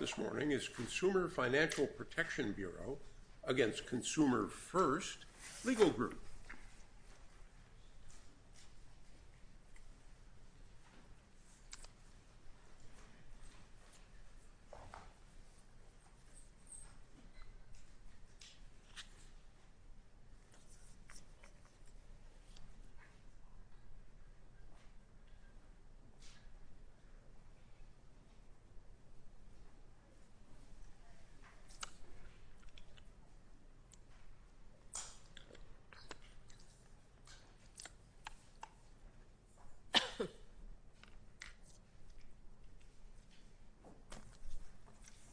is Consumer Financial Protection Bureau against Consumer First Legal Group.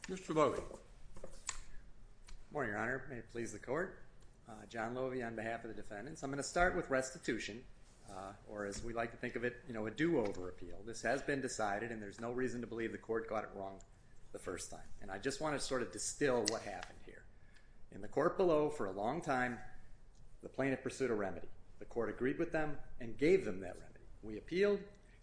Mr. Loewy. Good morning, Your Honor. May it please the Court? John Loewy on behalf of the defendants. I'm going to start with restitution, or as we like to think of it, you know, a do-over appeal. This has been decided, and there's no reason to believe the Court got it wrong the first time. And I just want to sort of distill what happened here. In the Court below, for a long time, the plaintiff pursued a remedy. The Court agreed with them and gave them that remedy. We appealed.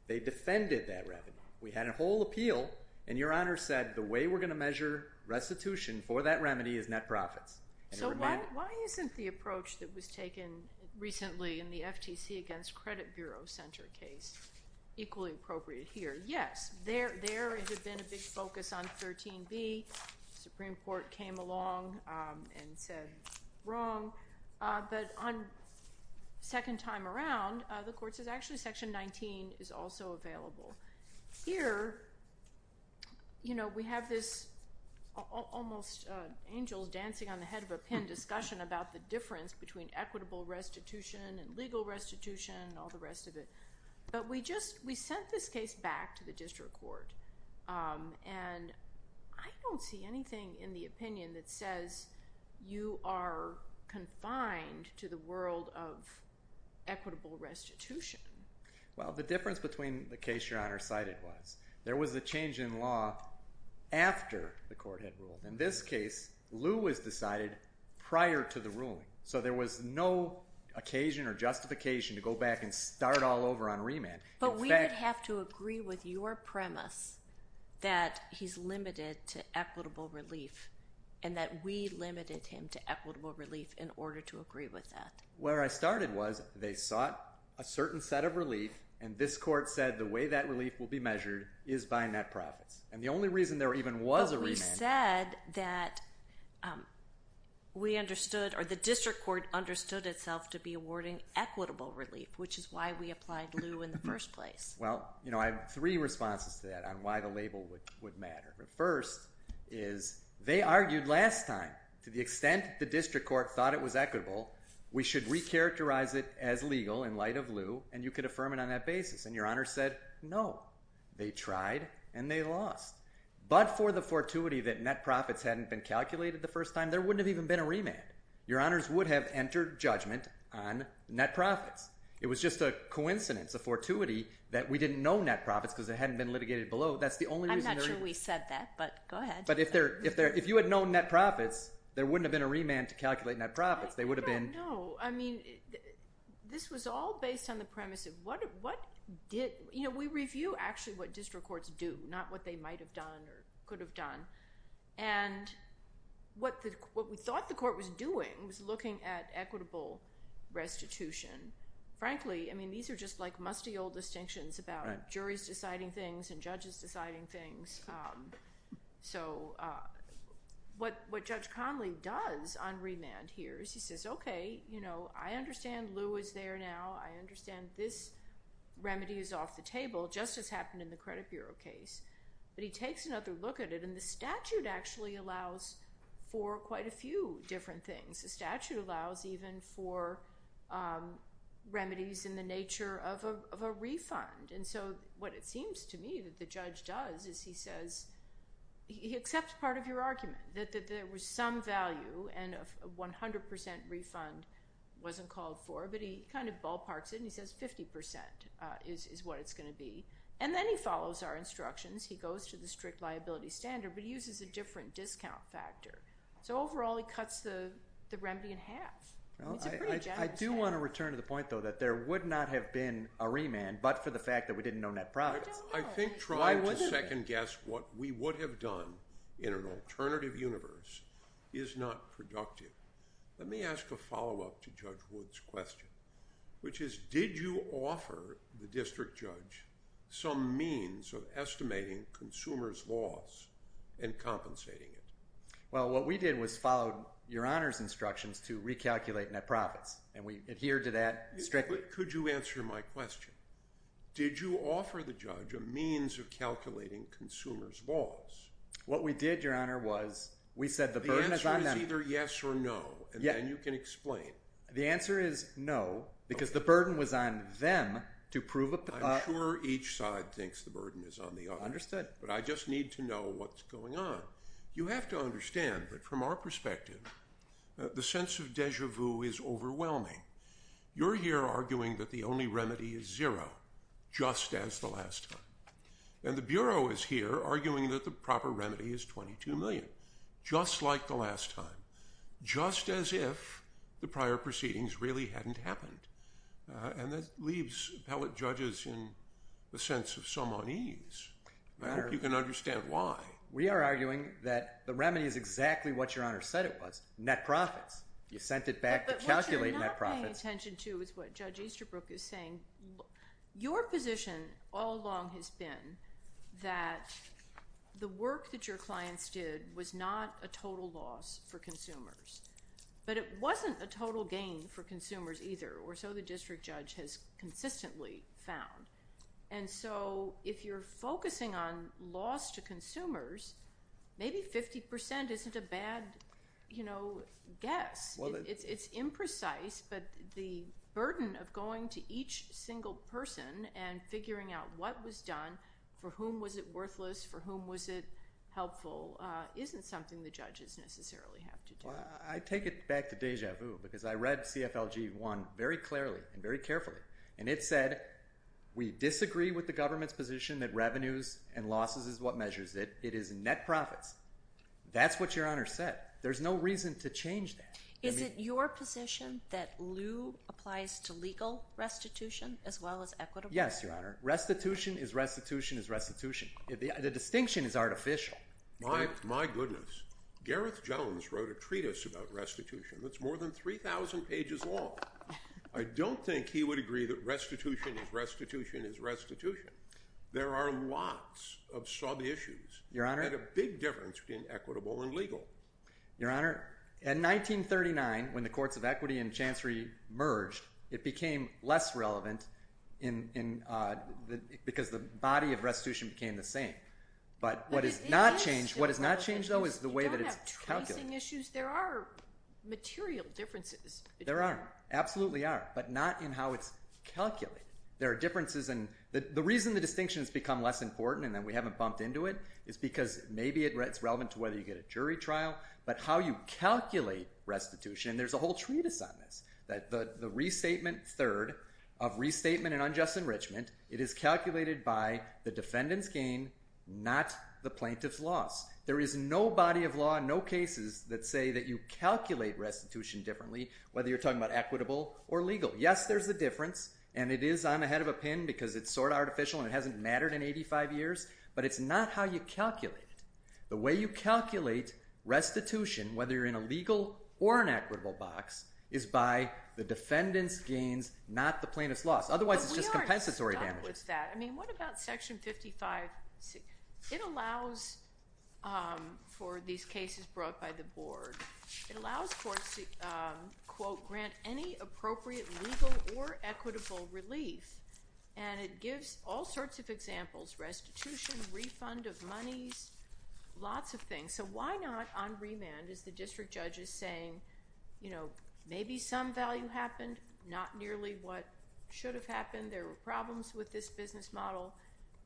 They defended that remedy. We had a whole appeal, and Your Honor said, the way we're going to measure restitution for that remedy is net profits. So why isn't the approach that was taken recently in the FTC against Credit Bureau Center case equally appropriate here? Yes, there has been a big focus on 13B. The Supreme Court came along and said, wrong. But on the second time around, the Court says, actually, Section 19 is also available. Here, you know, we have this almost angels dancing on the head of a pin discussion about the difference between equitable restitution and legal restitution and all the rest of it. But we sent this case back to the District Court, and I don't see anything in the opinion that says you are confined to the world of equitable restitution. Well, the difference between the case Your Honor cited was there was a change in law after the Court had ruled. In this case, lieu was decided prior to the ruling. So there was no occasion or justification to go back and start all over on remand. But we would have to agree with your premise that he's limited to equitable relief, and that we limited him to equitable relief in order to agree with that. Where I started was, they sought a certain set of relief, and this Court said the way that relief will be measured is by net profits. And the only reason there even was a remand They said that we understood, or the District Court understood itself to be awarding equitable relief, which is why we applied lieu in the first place. Well, you know, I have three responses to that on why the label would matter. The first is, they argued last time, to the extent the District Court thought it was equitable, we should recharacterize it as legal in light of lieu, and you could affirm it on that basis. And your Honor said, no. They tried and they lost. But for the fortuity that net profits hadn't been calculated the first time, there wouldn't have even been a remand. Your Honors would have entered judgment on net profits. It was just a coincidence, a fortuity, that we didn't know net profits because they hadn't been litigated below. I'm not sure we said that, but go ahead. But if you had known net profits, there wouldn't have been a remand to calculate net profits. Well, I don't know. I mean, this was all based on the premise of what did— you know, we review actually what District Courts do, not what they might have done or could have done. And what we thought the Court was doing was looking at equitable restitution. Frankly, I mean, these are just like musty old distinctions about juries deciding things and judges deciding things. So what Judge Conley does on remand here is he says, okay, you know, I understand Lou is there now. I understand this remedy is off the table, just as happened in the Credit Bureau case. But he takes another look at it, and the statute actually allows for quite a few different things. The statute allows even for remedies in the nature of a refund. And so what it seems to me that the judge does is he says he accepts part of your argument, that there was some value and a 100 percent refund wasn't called for, but he kind of ballparks it and he says 50 percent is what it's going to be. And then he follows our instructions. He goes to the strict liability standard, but he uses a different discount factor. So overall, he cuts the remedy in half. I do want to return to the point, though, that there would not have been a remand, but for the fact that we didn't know net profits. I think trying to second-guess what we would have done in an alternative universe is not productive. Let me ask a follow-up to Judge Wood's question, which is did you offer the district judge some means of estimating consumers' loss and compensating it? Well, what we did was follow Your Honor's instructions to recalculate net profits, and we adhered to that strictly. Could you answer my question? Did you offer the judge a means of calculating consumers' loss? What we did, Your Honor, was we said the burden is on them. The answer is either yes or no, and then you can explain. The answer is no because the burden was on them to prove it. I'm sure each side thinks the burden is on the other. Understood. But I just need to know what's going on. You have to understand that from our perspective, the sense of deja vu is overwhelming. You're here arguing that the only remedy is zero, just as the last time, and the Bureau is here arguing that the proper remedy is $22 million, just like the last time, just as if the prior proceedings really hadn't happened, and that leaves appellate judges in the sense of some unease. I hope you can understand why. We are arguing that the remedy is exactly what Your Honor said it was, net profits. You sent it back to calculate net profits. But what you're not paying attention to is what Judge Easterbrook is saying. Your position all along has been that the work that your clients did was not a total loss for consumers, but it wasn't a total gain for consumers either, or so the district judge has consistently found. And so if you're focusing on loss to consumers, maybe 50% isn't a bad guess. It's imprecise, but the burden of going to each single person and figuring out what was done, for whom was it worthless, for whom was it helpful, isn't something the judges necessarily have to do. I take it back to deja vu because I read CFLG 1 very clearly and very carefully, and it said we disagree with the government's position that revenues and losses is what measures it. It is net profits. That's what Your Honor said. There's no reason to change that. Is it your position that lieu applies to legal restitution as well as equitable? Yes, Your Honor. Restitution is restitution is restitution. The distinction is artificial. My goodness. Gareth Jones wrote a treatise about restitution that's more than 3,000 pages long. I don't think he would agree that restitution is restitution is restitution. There are lots of sub-issues that are a big difference between equitable and legal. Your Honor, in 1939, when the courts of equity and chancery merged, it became less relevant because the body of restitution became the same. But what has not changed, though, is the way that it's calculated. You don't have tracing issues. There are material differences. There are. Absolutely are, but not in how it's calculated. There are differences, and the reason the distinction has become less important and that we haven't bumped into it is because maybe it's relevant to whether you get a jury trial, but how you calculate restitution, and there's a whole treatise on this, that the restatement third of restatement and unjust enrichment, it is calculated by the defendant's gain, not the plaintiff's loss. There is no body of law, no cases that say that you calculate restitution differently, whether you're talking about equitable or legal. Yes, there's a difference, and it is. I'm ahead of a pin because it's sort of artificial and it hasn't mattered in 85 years, but it's not how you calculate it. The way you calculate restitution, whether you're in a legal or an equitable box, is by the defendant's gains, not the plaintiff's loss. Otherwise, it's just compensatory damages. But we aren't stuck with that. I mean, what about Section 55C? It allows for these cases brought by the board. It allows courts to, quote, grant any appropriate legal or equitable relief, and it gives all sorts of examples, restitution, refund of monies, lots of things. So why not on remand, as the district judge is saying, you know, maybe some value happened, not nearly what should have happened. There were problems with this business model.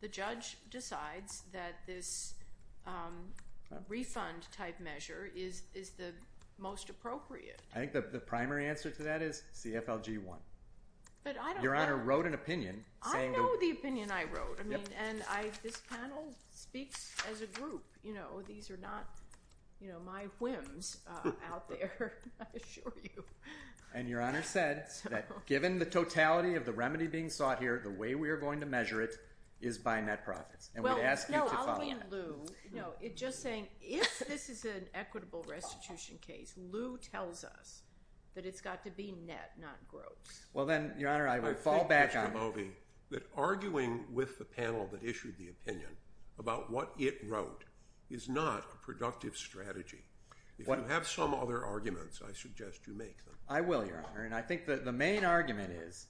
The judge decides that this refund type measure is the most appropriate. I think the primary answer to that is CFLG 1. Your Honor wrote an opinion. I know the opinion I wrote, and this panel speaks as a group. You know, these are not my whims out there, I assure you. And Your Honor said that given the totality of the remedy being sought here, the way we are going to measure it is by net profits, and we'd ask you to follow. Well, no, I'll give Lou, you know, just saying if this is an equitable restitution case, Lou tells us that it's got to be net, not gross. Well, then, Your Honor, I would fall back on that. I think, Mr. Movey, that arguing with the panel that issued the opinion about what it wrote is not a productive strategy. If you have some other arguments, I suggest you make them. I will, Your Honor. And I think the main argument is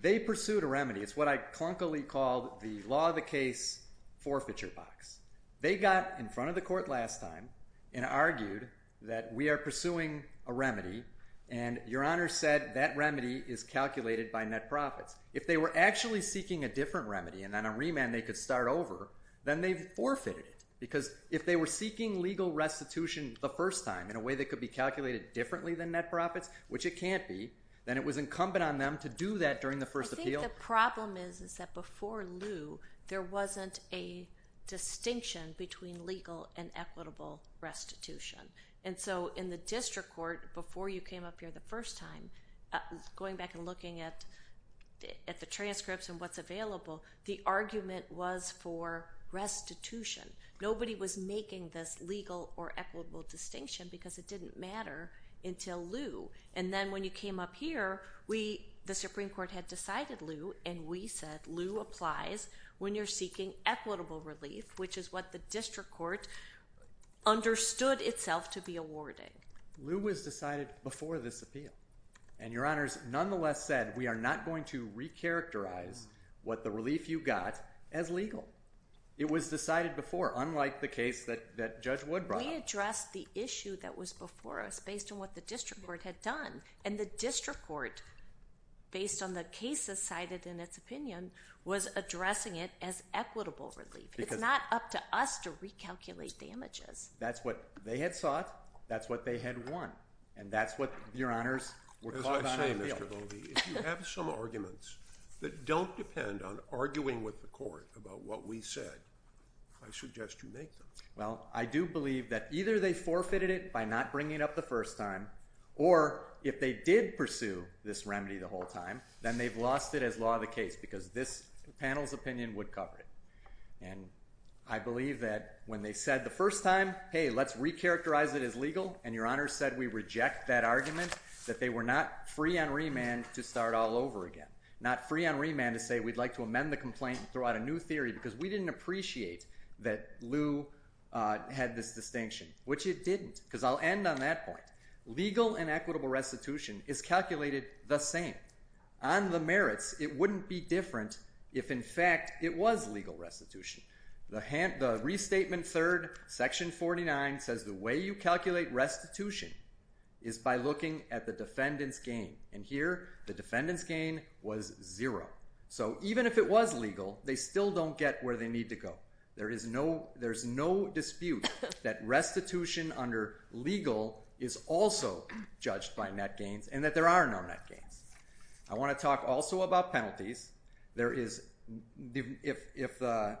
they pursued a remedy. It's what I clunkily called the law of the case forfeiture box. They got in front of the court last time and argued that we are pursuing a remedy, and Your Honor said that remedy is calculated by net profits. If they were actually seeking a different remedy and on a remand they could start over, then they forfeited it because if they were seeking legal restitution the first time in a way that could be calculated differently than net profits, which it can't be, then it was incumbent on them to do that during the first appeal. I think the problem is that before Lou there wasn't a distinction between legal and equitable restitution. And so in the district court, before you came up here the first time, going back and looking at the transcripts and what's available, the argument was for restitution. Nobody was making this legal or equitable distinction because it didn't matter until Lou. And then when you came up here, the Supreme Court had decided Lou, and we said Lou applies when you're seeking equitable relief, which is what the district court understood itself to be awarding. Lou was decided before this appeal. And Your Honors nonetheless said we are not going to recharacterize what the relief you got as legal. It was decided before, unlike the case that Judge Wood brought up. We addressed the issue that was before us based on what the district court had done. And the district court, based on the cases cited in its opinion, was addressing it as equitable relief. It's not up to us to recalculate damages. That's what they had sought. That's what they had won. And that's what Your Honors were caught on appeal. If you have some arguments that don't depend on arguing with the court about what we said, I suggest you make them. Well, I do believe that either they forfeited it by not bringing it up the first time, or if they did pursue this remedy the whole time, then they've lost it as law of the case because this panel's opinion would cover it. And I believe that when they said the first time, hey, let's recharacterize it as legal, and Your Honors said we reject that argument, that they were not free on remand to start all over again, not free on remand to say we'd like to amend the complaint and throw out a new theory because we didn't appreciate that Lou had this distinction, which it didn't. Because I'll end on that point. Legal and equitable restitution is calculated the same. On the merits, it wouldn't be different if, in fact, it was legal restitution. The Restatement 3rd, Section 49 says the way you calculate restitution is by looking at the defendant's gain. And here the defendant's gain was zero. So even if it was legal, they still don't get where they need to go. There is no dispute that restitution under legal is also judged by net gains and that there are no net gains. I want to talk also about penalties. If the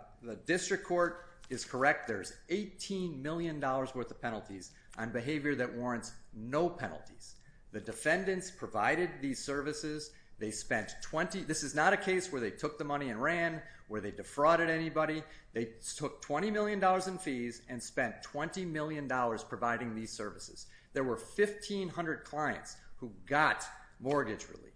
district court is correct, there's $18 million worth of penalties on behavior that warrants no penalties. The defendants provided these services. This is not a case where they took the money and ran, where they defrauded anybody. They took $20 million in fees and spent $20 million providing these services. There were 1,500 clients who got mortgage relief.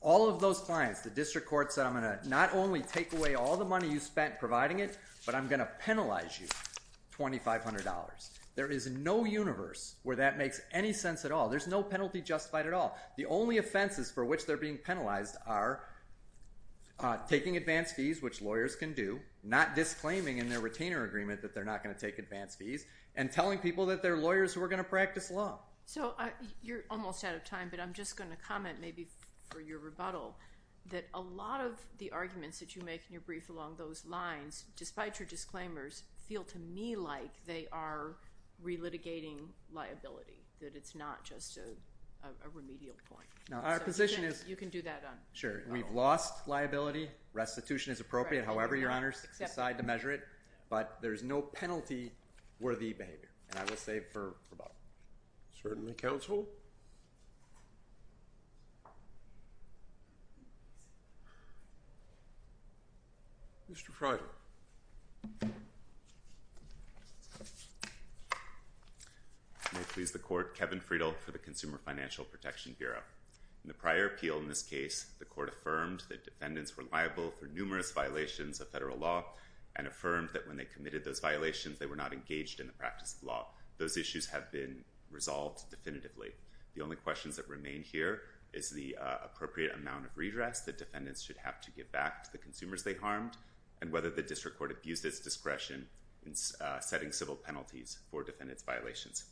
All of those clients, the district court said, I'm going to not only take away all the money you spent providing it, but I'm going to penalize you $2,500. There is no universe where that makes any sense at all. There's no penalty justified at all. The only offenses for which they're being penalized are taking advance fees, which lawyers can do, not disclaiming in their retainer agreement that they're not going to take advance fees, and telling people that they're lawyers who are going to practice law. So you're almost out of time, but I'm just going to comment maybe for your rebuttal that a lot of the arguments that you make in your brief along those lines, despite your disclaimers, feel to me like they are relitigating liability, that it's not just a remedial point. Our position is – You can do that on – Sure. We've lost liability. Restitution is appropriate, however your honors decide to measure it. But there's no penalty-worthy behavior, and I will save for rebuttal. Certainly, counsel. Mr. Friedel. May it please the Court, Kevin Friedel for the Consumer Financial Protection Bureau. In the prior appeal in this case, the Court affirmed that defendants were liable for numerous violations of federal law and affirmed that when they committed those violations, they were not engaged in the practice of law. Those issues have been resolved definitively. The only questions that remain here is the appropriate amount of redress that defendants should have to give back to the consumers they harmed and whether the district court abused its discretion in setting civil penalties for defendants' violations.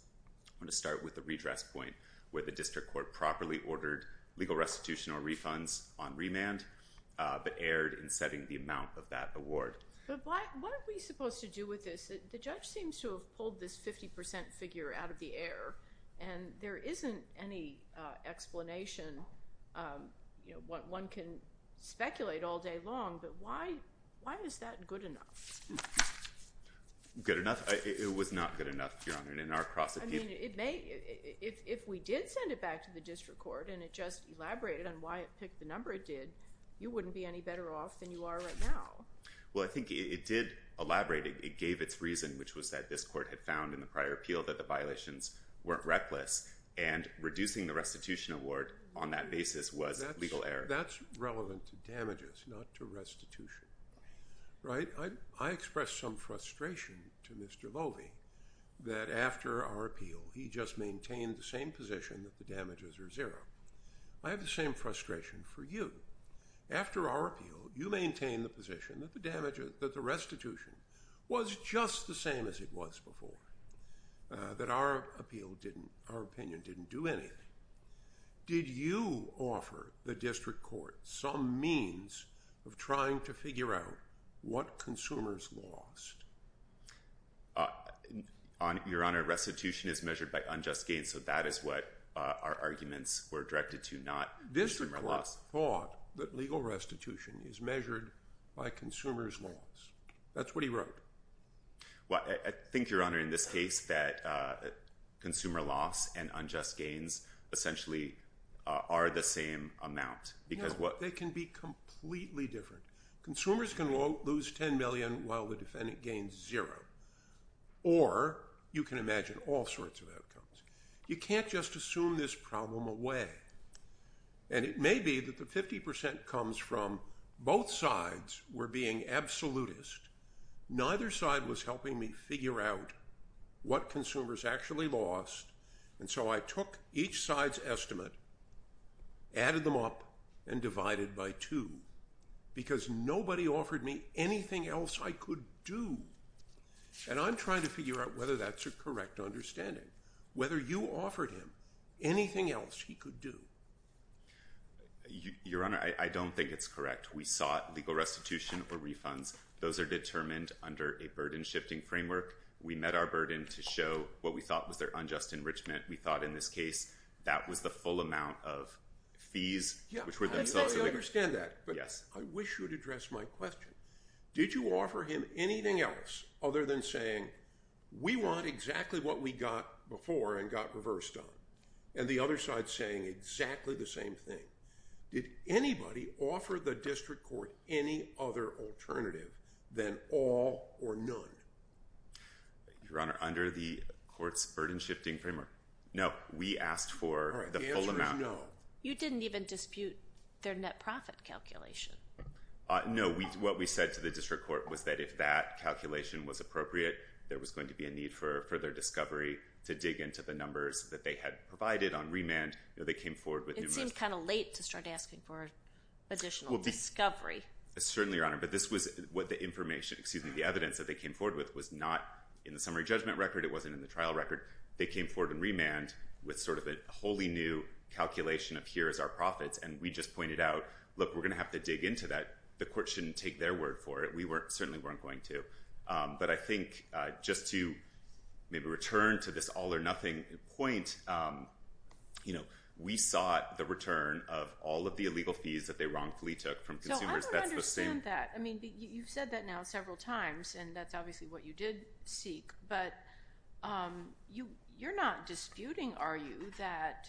I want to start with the redress point where the district court properly ordered legal restitution or refunds on remand, but erred in setting the amount of that award. But what are we supposed to do with this? The judge seems to have pulled this 50 percent figure out of the air, and there isn't any explanation. One can speculate all day long, but why is that good enough? Good enough? It was not good enough, Your Honor. In our cross-appeal – I mean, it may – if we did send it back to the district court and it just elaborated on why it picked the number it did, you wouldn't be any better off than you are right now. Well, I think it did elaborate. It gave its reason, which was that this court had found in the prior appeal that the violations weren't reckless, and reducing the restitution award on that basis was a legal error. That's relevant to damages, not to restitution, right? I express some frustration to Mr. Loewy that after our appeal, he just maintained the same position that the damages are zero. I have the same frustration for you. After our appeal, you maintained the position that the restitution was just the same as it was before, that our appeal didn't – our opinion didn't do anything. Did you offer the district court some means of trying to figure out what consumers lost? Your Honor, restitution is measured by unjust gains, so that is what our arguments were directed to, not – District court thought that legal restitution is measured by consumers' loss. That's what he wrote. Well, I think, Your Honor, in this case that consumer loss and unjust gains essentially are the same amount. No, they can be completely different. Consumers can lose $10 million while the defendant gains zero, or you can imagine all sorts of outcomes. You can't just assume this problem away, and it may be that the 50% comes from both sides were being absolutist. Neither side was helping me figure out what consumers actually lost, and so I took each side's estimate, added them up, and divided by two because nobody offered me anything else I could do, and I'm trying to figure out whether that's a correct understanding, whether you offered him anything else he could do. Your Honor, I don't think it's correct. We sought legal restitution or refunds. Those are determined under a burden-shifting framework. We met our burden to show what we thought was their unjust enrichment. We thought, in this case, that was the full amount of fees, which were themselves – Yeah, I understand that, but I wish you would address my question. Did you offer him anything else other than saying, we want exactly what we got before and got reversed on, and the other side saying exactly the same thing? Did anybody offer the district court any other alternative than all or none? Your Honor, under the court's burden-shifting framework, no. We asked for the full amount. The answer is no. You didn't even dispute their net profit calculation. No. What we said to the district court was that if that calculation was appropriate, there was going to be a need for further discovery to dig into the numbers that they had provided on remand. It seemed kind of late to start asking for additional discovery. Certainly, Your Honor, but this was what the evidence that they came forward with was not in the summary judgment record. It wasn't in the trial record. They came forward in remand with sort of a wholly new calculation of here is our profits, and we just pointed out, look, we're going to have to dig into that. The court shouldn't take their word for it. We certainly weren't going to. But I think just to maybe return to this all-or-nothing point, we sought the return of all of the illegal fees that they wrongfully took from consumers. I don't understand that. You've said that now several times, and that's obviously what you did seek, but you're not disputing, are you, that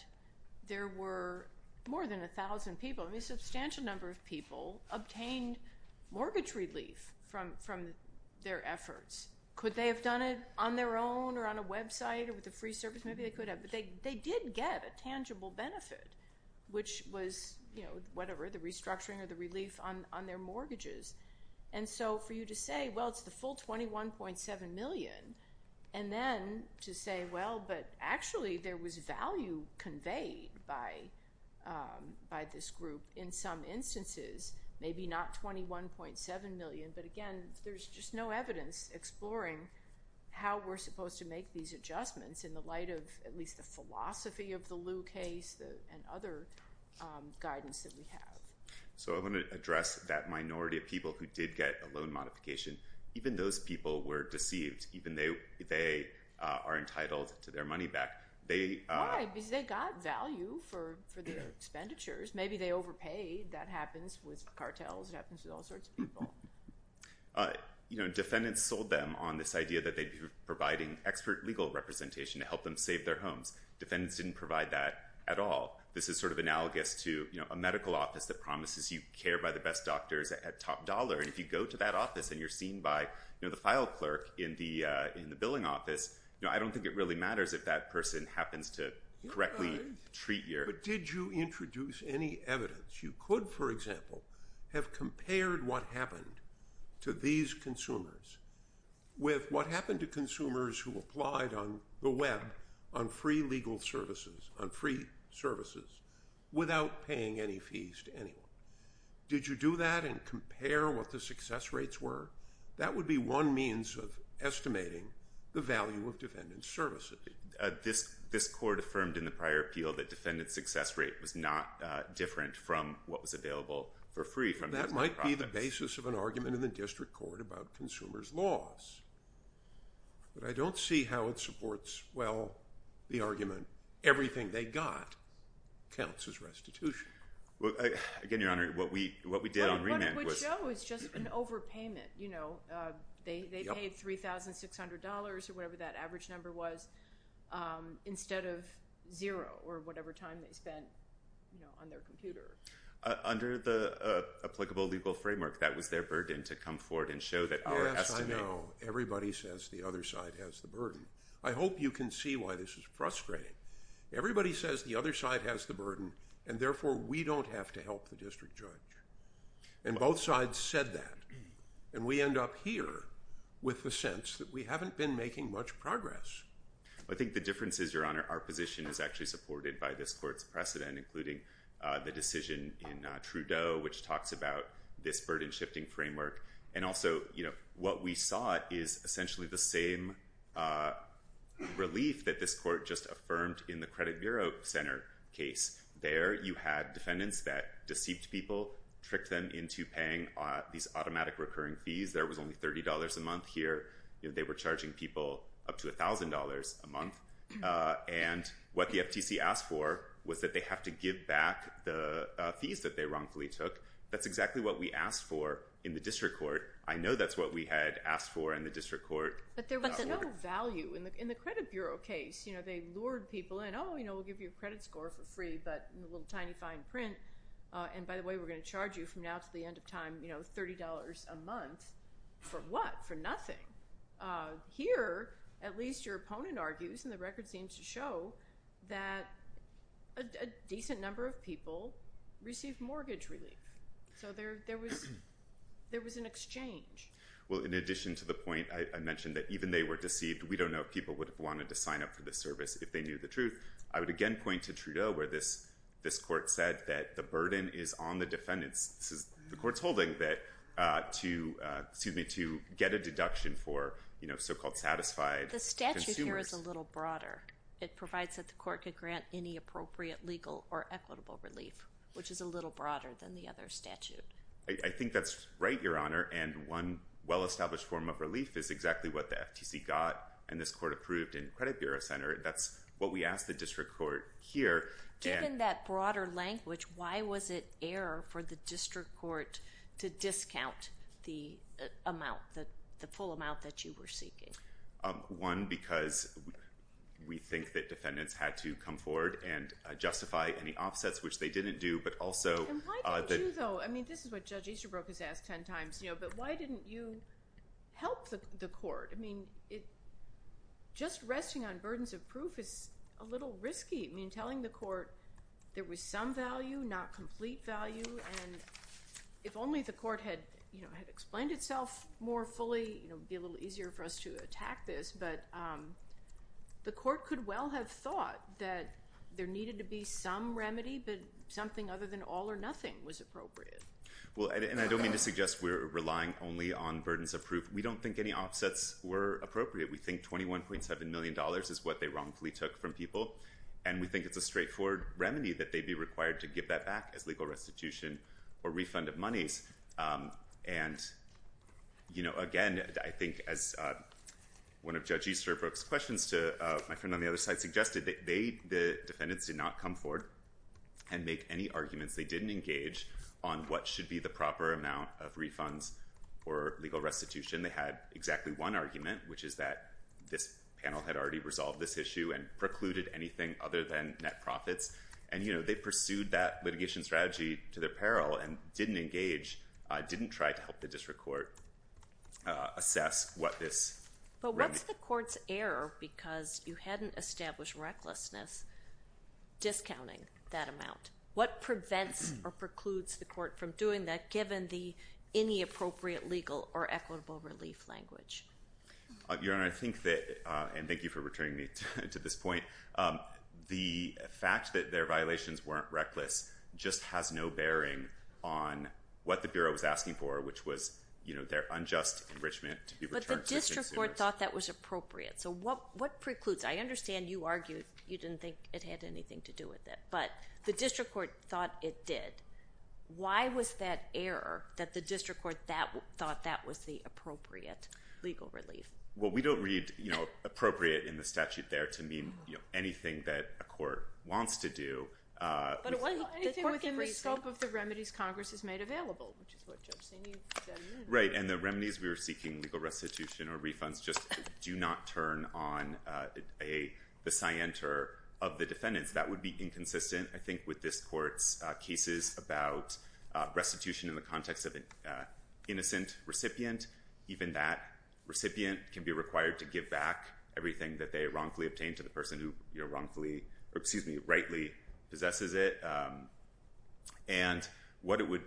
there were more than 1,000 people, a substantial number of people, obtained mortgage relief from their efforts. Could they have done it on their own or on a website or with a free service? Maybe they could have, but they did get a tangible benefit, which was whatever, the restructuring or the relief on their mortgages. And so for you to say, well, it's the full $21.7 million, and then to say, well, but actually there was value conveyed by this group in some instances, maybe not $21.7 million, but, again, there's just no evidence exploring how we're supposed to make these adjustments in the light of at least the philosophy of the Lew case and other guidance that we have. So I want to address that minority of people who did get a loan modification. Even those people were deceived. Even they are entitled to their money back. Why? Because they got value for their expenditures. Maybe they overpaid. That happens with cartels. It happens with all sorts of people. Defendants sold them on this idea that they'd be providing expert legal representation to help them save their homes. Defendants didn't provide that at all. This is sort of analogous to a medical office that promises you care by the best doctors at top dollar, and if you go to that office and you're seen by the file clerk in the billing office, I don't think it really matters if that person happens to correctly treat you. But did you introduce any evidence? You could, for example, have compared what happened to these consumers with what happened to consumers who applied on the web on free legal services, on free services, without paying any fees to anyone. Did you do that and compare what the success rates were? That would be one means of estimating the value of defendant services. This court affirmed in the prior appeal that defendant success rate was not different from what was available for free. That might be the basis of an argument in the district court about consumers' laws, but I don't see how it supports, well, the argument everything they got counts as restitution. Again, Your Honor, what we did on remand was- What it would show is just an overpayment. They paid $3,600 or whatever that average number was instead of zero or whatever time they spent on their computer. Under the applicable legal framework, that was their burden to come forward and show that- Yes, I know. Everybody says the other side has the burden. I hope you can see why this is frustrating. Everybody says the other side has the burden, and therefore we don't have to help the district judge. And both sides said that. And we end up here with the sense that we haven't been making much progress. I think the difference is, Your Honor, our position is actually supported by this court's precedent, including the decision in Trudeau, which talks about this burden-shifting framework. And also, what we saw is essentially the same relief that this court just affirmed in the Credit Bureau Center case. There you had defendants that deceived people, tricked them into paying these automatic recurring fees. There was only $30 a month here. They were charging people up to $1,000 a month. And what the FTC asked for was that they have to give back the fees that they wrongfully took. That's exactly what we asked for in the district court. I know that's what we had asked for in the district court. But there was another value in the Credit Bureau case. They lured people in. Oh, we'll give you a credit score for free, but in a little tiny, fine print. And by the way, we're going to charge you from now to the end of time $30 a month. For what? For nothing. Here, at least your opponent argues, and the record seems to show, that a decent number of people received mortgage relief. So there was an exchange. Well, in addition to the point I mentioned that even they were deceived, we don't know if people would have wanted to sign up for this service if they knew the truth, I would again point to Trudeau where this court said that the burden is on the defendants. This is the court's holding that to get a deduction for so-called satisfied consumers. The statute here is a little broader. It provides that the court could grant any appropriate legal or equitable relief, which is a little broader than the other statute. I think that's right, Your Honor. And one well-established form of relief is exactly what the FTC got, and this court approved in the Credit Bureau Center. That's what we asked the district court here. Given that broader language, why was it error for the district court to discount the amount, the full amount that you were seeking? One, because we think that defendants had to come forward and justify any offsets, which they didn't do, but also— And why didn't you, though? I mean, this is what Judge Easterbrook has asked 10 times, you know, but why didn't you help the court? I mean, just resting on burdens of proof is a little risky. I mean, telling the court there was some value, not complete value, and if only the court had explained itself more fully, it would be a little easier for us to attack this. But the court could well have thought that there needed to be some remedy, but something other than all or nothing was appropriate. And I don't mean to suggest we're relying only on burdens of proof. We don't think any offsets were appropriate. We think $21.7 million is what they wrongfully took from people. And we think it's a straightforward remedy that they be required to give that back as legal restitution or refund of monies. And, you know, again, I think as one of Judge Easterbrook's questions to my friend on the other side suggested, the defendants did not come forward and make any arguments. They didn't engage on what should be the proper amount of refunds or legal restitution. They had exactly one argument, which is that this panel had already resolved this issue and precluded anything other than net profits. And, you know, they pursued that litigation strategy to their peril and didn't engage, didn't try to help the district court assess what this remedy. But what's the court's error because you hadn't established recklessness discounting that amount? What prevents or precludes the court from doing that given the inappropriate legal or equitable relief language? Your Honor, I think that, and thank you for returning me to this point, the fact that their violations weren't reckless just has no bearing on what the Bureau was asking for, which was, you know, their unjust enrichment to be returned to consumers. But the district court thought that was appropriate. So what precludes? I understand you argued you didn't think it had anything to do with it. But the district court thought it did. Why was that error that the district court thought that was the appropriate legal relief? Well, we don't read, you know, appropriate in the statute there to mean, you know, anything that a court wants to do. But it wasn't anything within the scope of the remedies Congress has made available, which is what Judge Saney said it meant. Right, and the remedies we were seeking, legal restitution or refunds, just do not turn on the scienter of the defendants. That would be inconsistent, I think, with this court's cases about restitution in the context of an innocent recipient. Even that recipient can be required to give back everything that they wrongfully obtained to the person who, you know, wrongfully, excuse me, rightly possesses it. And what it would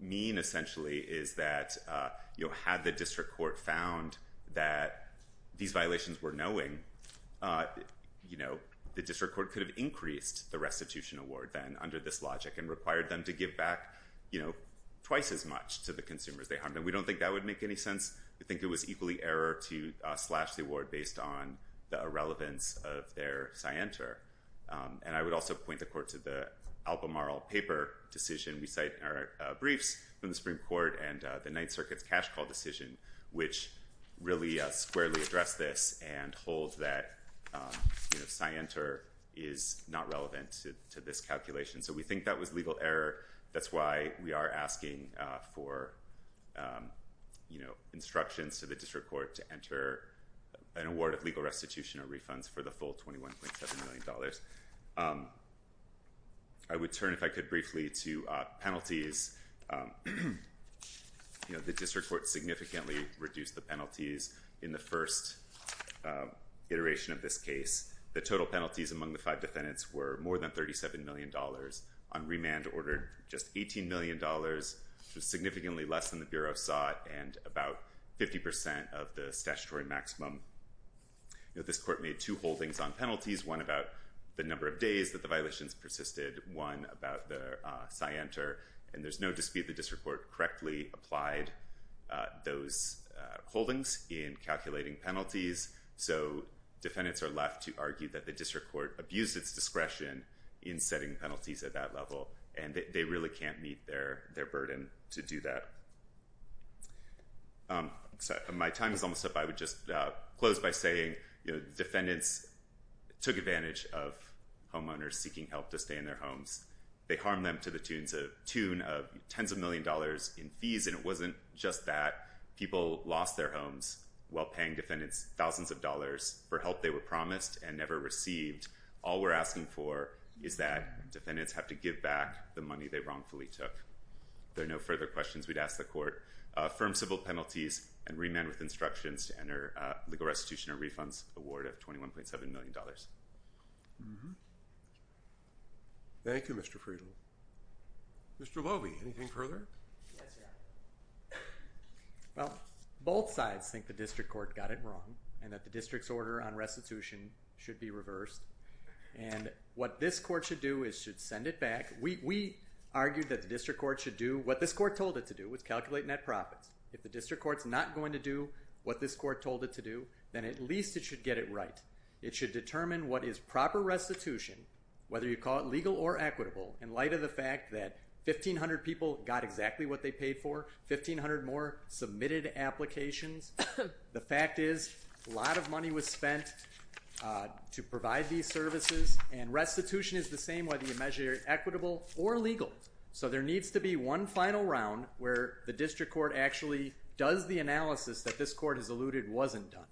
mean essentially is that, you know, had the district court found that these violations were knowing, you know, the district court could have increased the restitution award then under this logic and required them to give back, you know, twice as much to the consumers they harmed. And we don't think that would make any sense. We think it was equally error to slash the award based on the irrelevance of their scienter. And I would also point the court to the Albemarle paper decision. We cite briefs from the Supreme Court and the Ninth Circuit's cash call decision, which really squarely address this and hold that, you know, scienter is not relevant to this calculation. So we think that was legal error. That's why we are asking for, you know, instructions to the district court to enter an award of legal restitution or refunds for the full $21.7 million. I would turn, if I could, briefly to penalties. You know, the district court significantly reduced the penalties in the first iteration of this case. The total penalties among the five defendants were more than $37 million. On remand order, just $18 million, so significantly less than the Bureau sought and about 50% of the statutory maximum. You know, this court made two holdings on penalties, one about the number of days that the violations persisted, and one about the scienter. And there's no dispute the district court correctly applied those holdings in calculating penalties. So defendants are left to argue that the district court abused its discretion in setting penalties at that level, and they really can't meet their burden to do that. My time is almost up. So I would just close by saying, you know, defendants took advantage of homeowners seeking help to stay in their homes. They harmed them to the tune of tens of million dollars in fees, and it wasn't just that. People lost their homes while paying defendants thousands of dollars for help they were promised and never received. All we're asking for is that defendants have to give back the money they wrongfully took. There are no further questions we'd ask the court. Thank you, Mr. Friedel. Mr. Lobey, anything further? Well, both sides think the district court got it wrong and that the district's order on restitution should be reversed. And what this court should do is should send it back. We argued that the district court should do what this court told it to do, which is calculate net profits. If the district court's not going to do what this court told it to do, then at least it should get it right. It should determine what is proper restitution, whether you call it legal or equitable, in light of the fact that 1,500 people got exactly what they paid for, 1,500 more submitted applications. The fact is a lot of money was spent to provide these services, and restitution is the same whether you measure it equitable or legal. So there needs to be one final round where the district court actually does the analysis that this court has alluded wasn't done.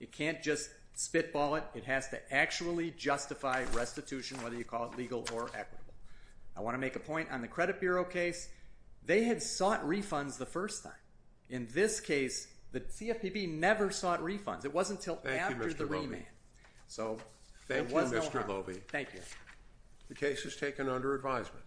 It can't just spitball it. It has to actually justify restitution, whether you call it legal or equitable. I want to make a point on the credit bureau case. They had sought refunds the first time. In this case, the CFPB never sought refunds. It wasn't until after the remand. So thank you, Mr. Loewe. Thank you. The case is taken under advisement.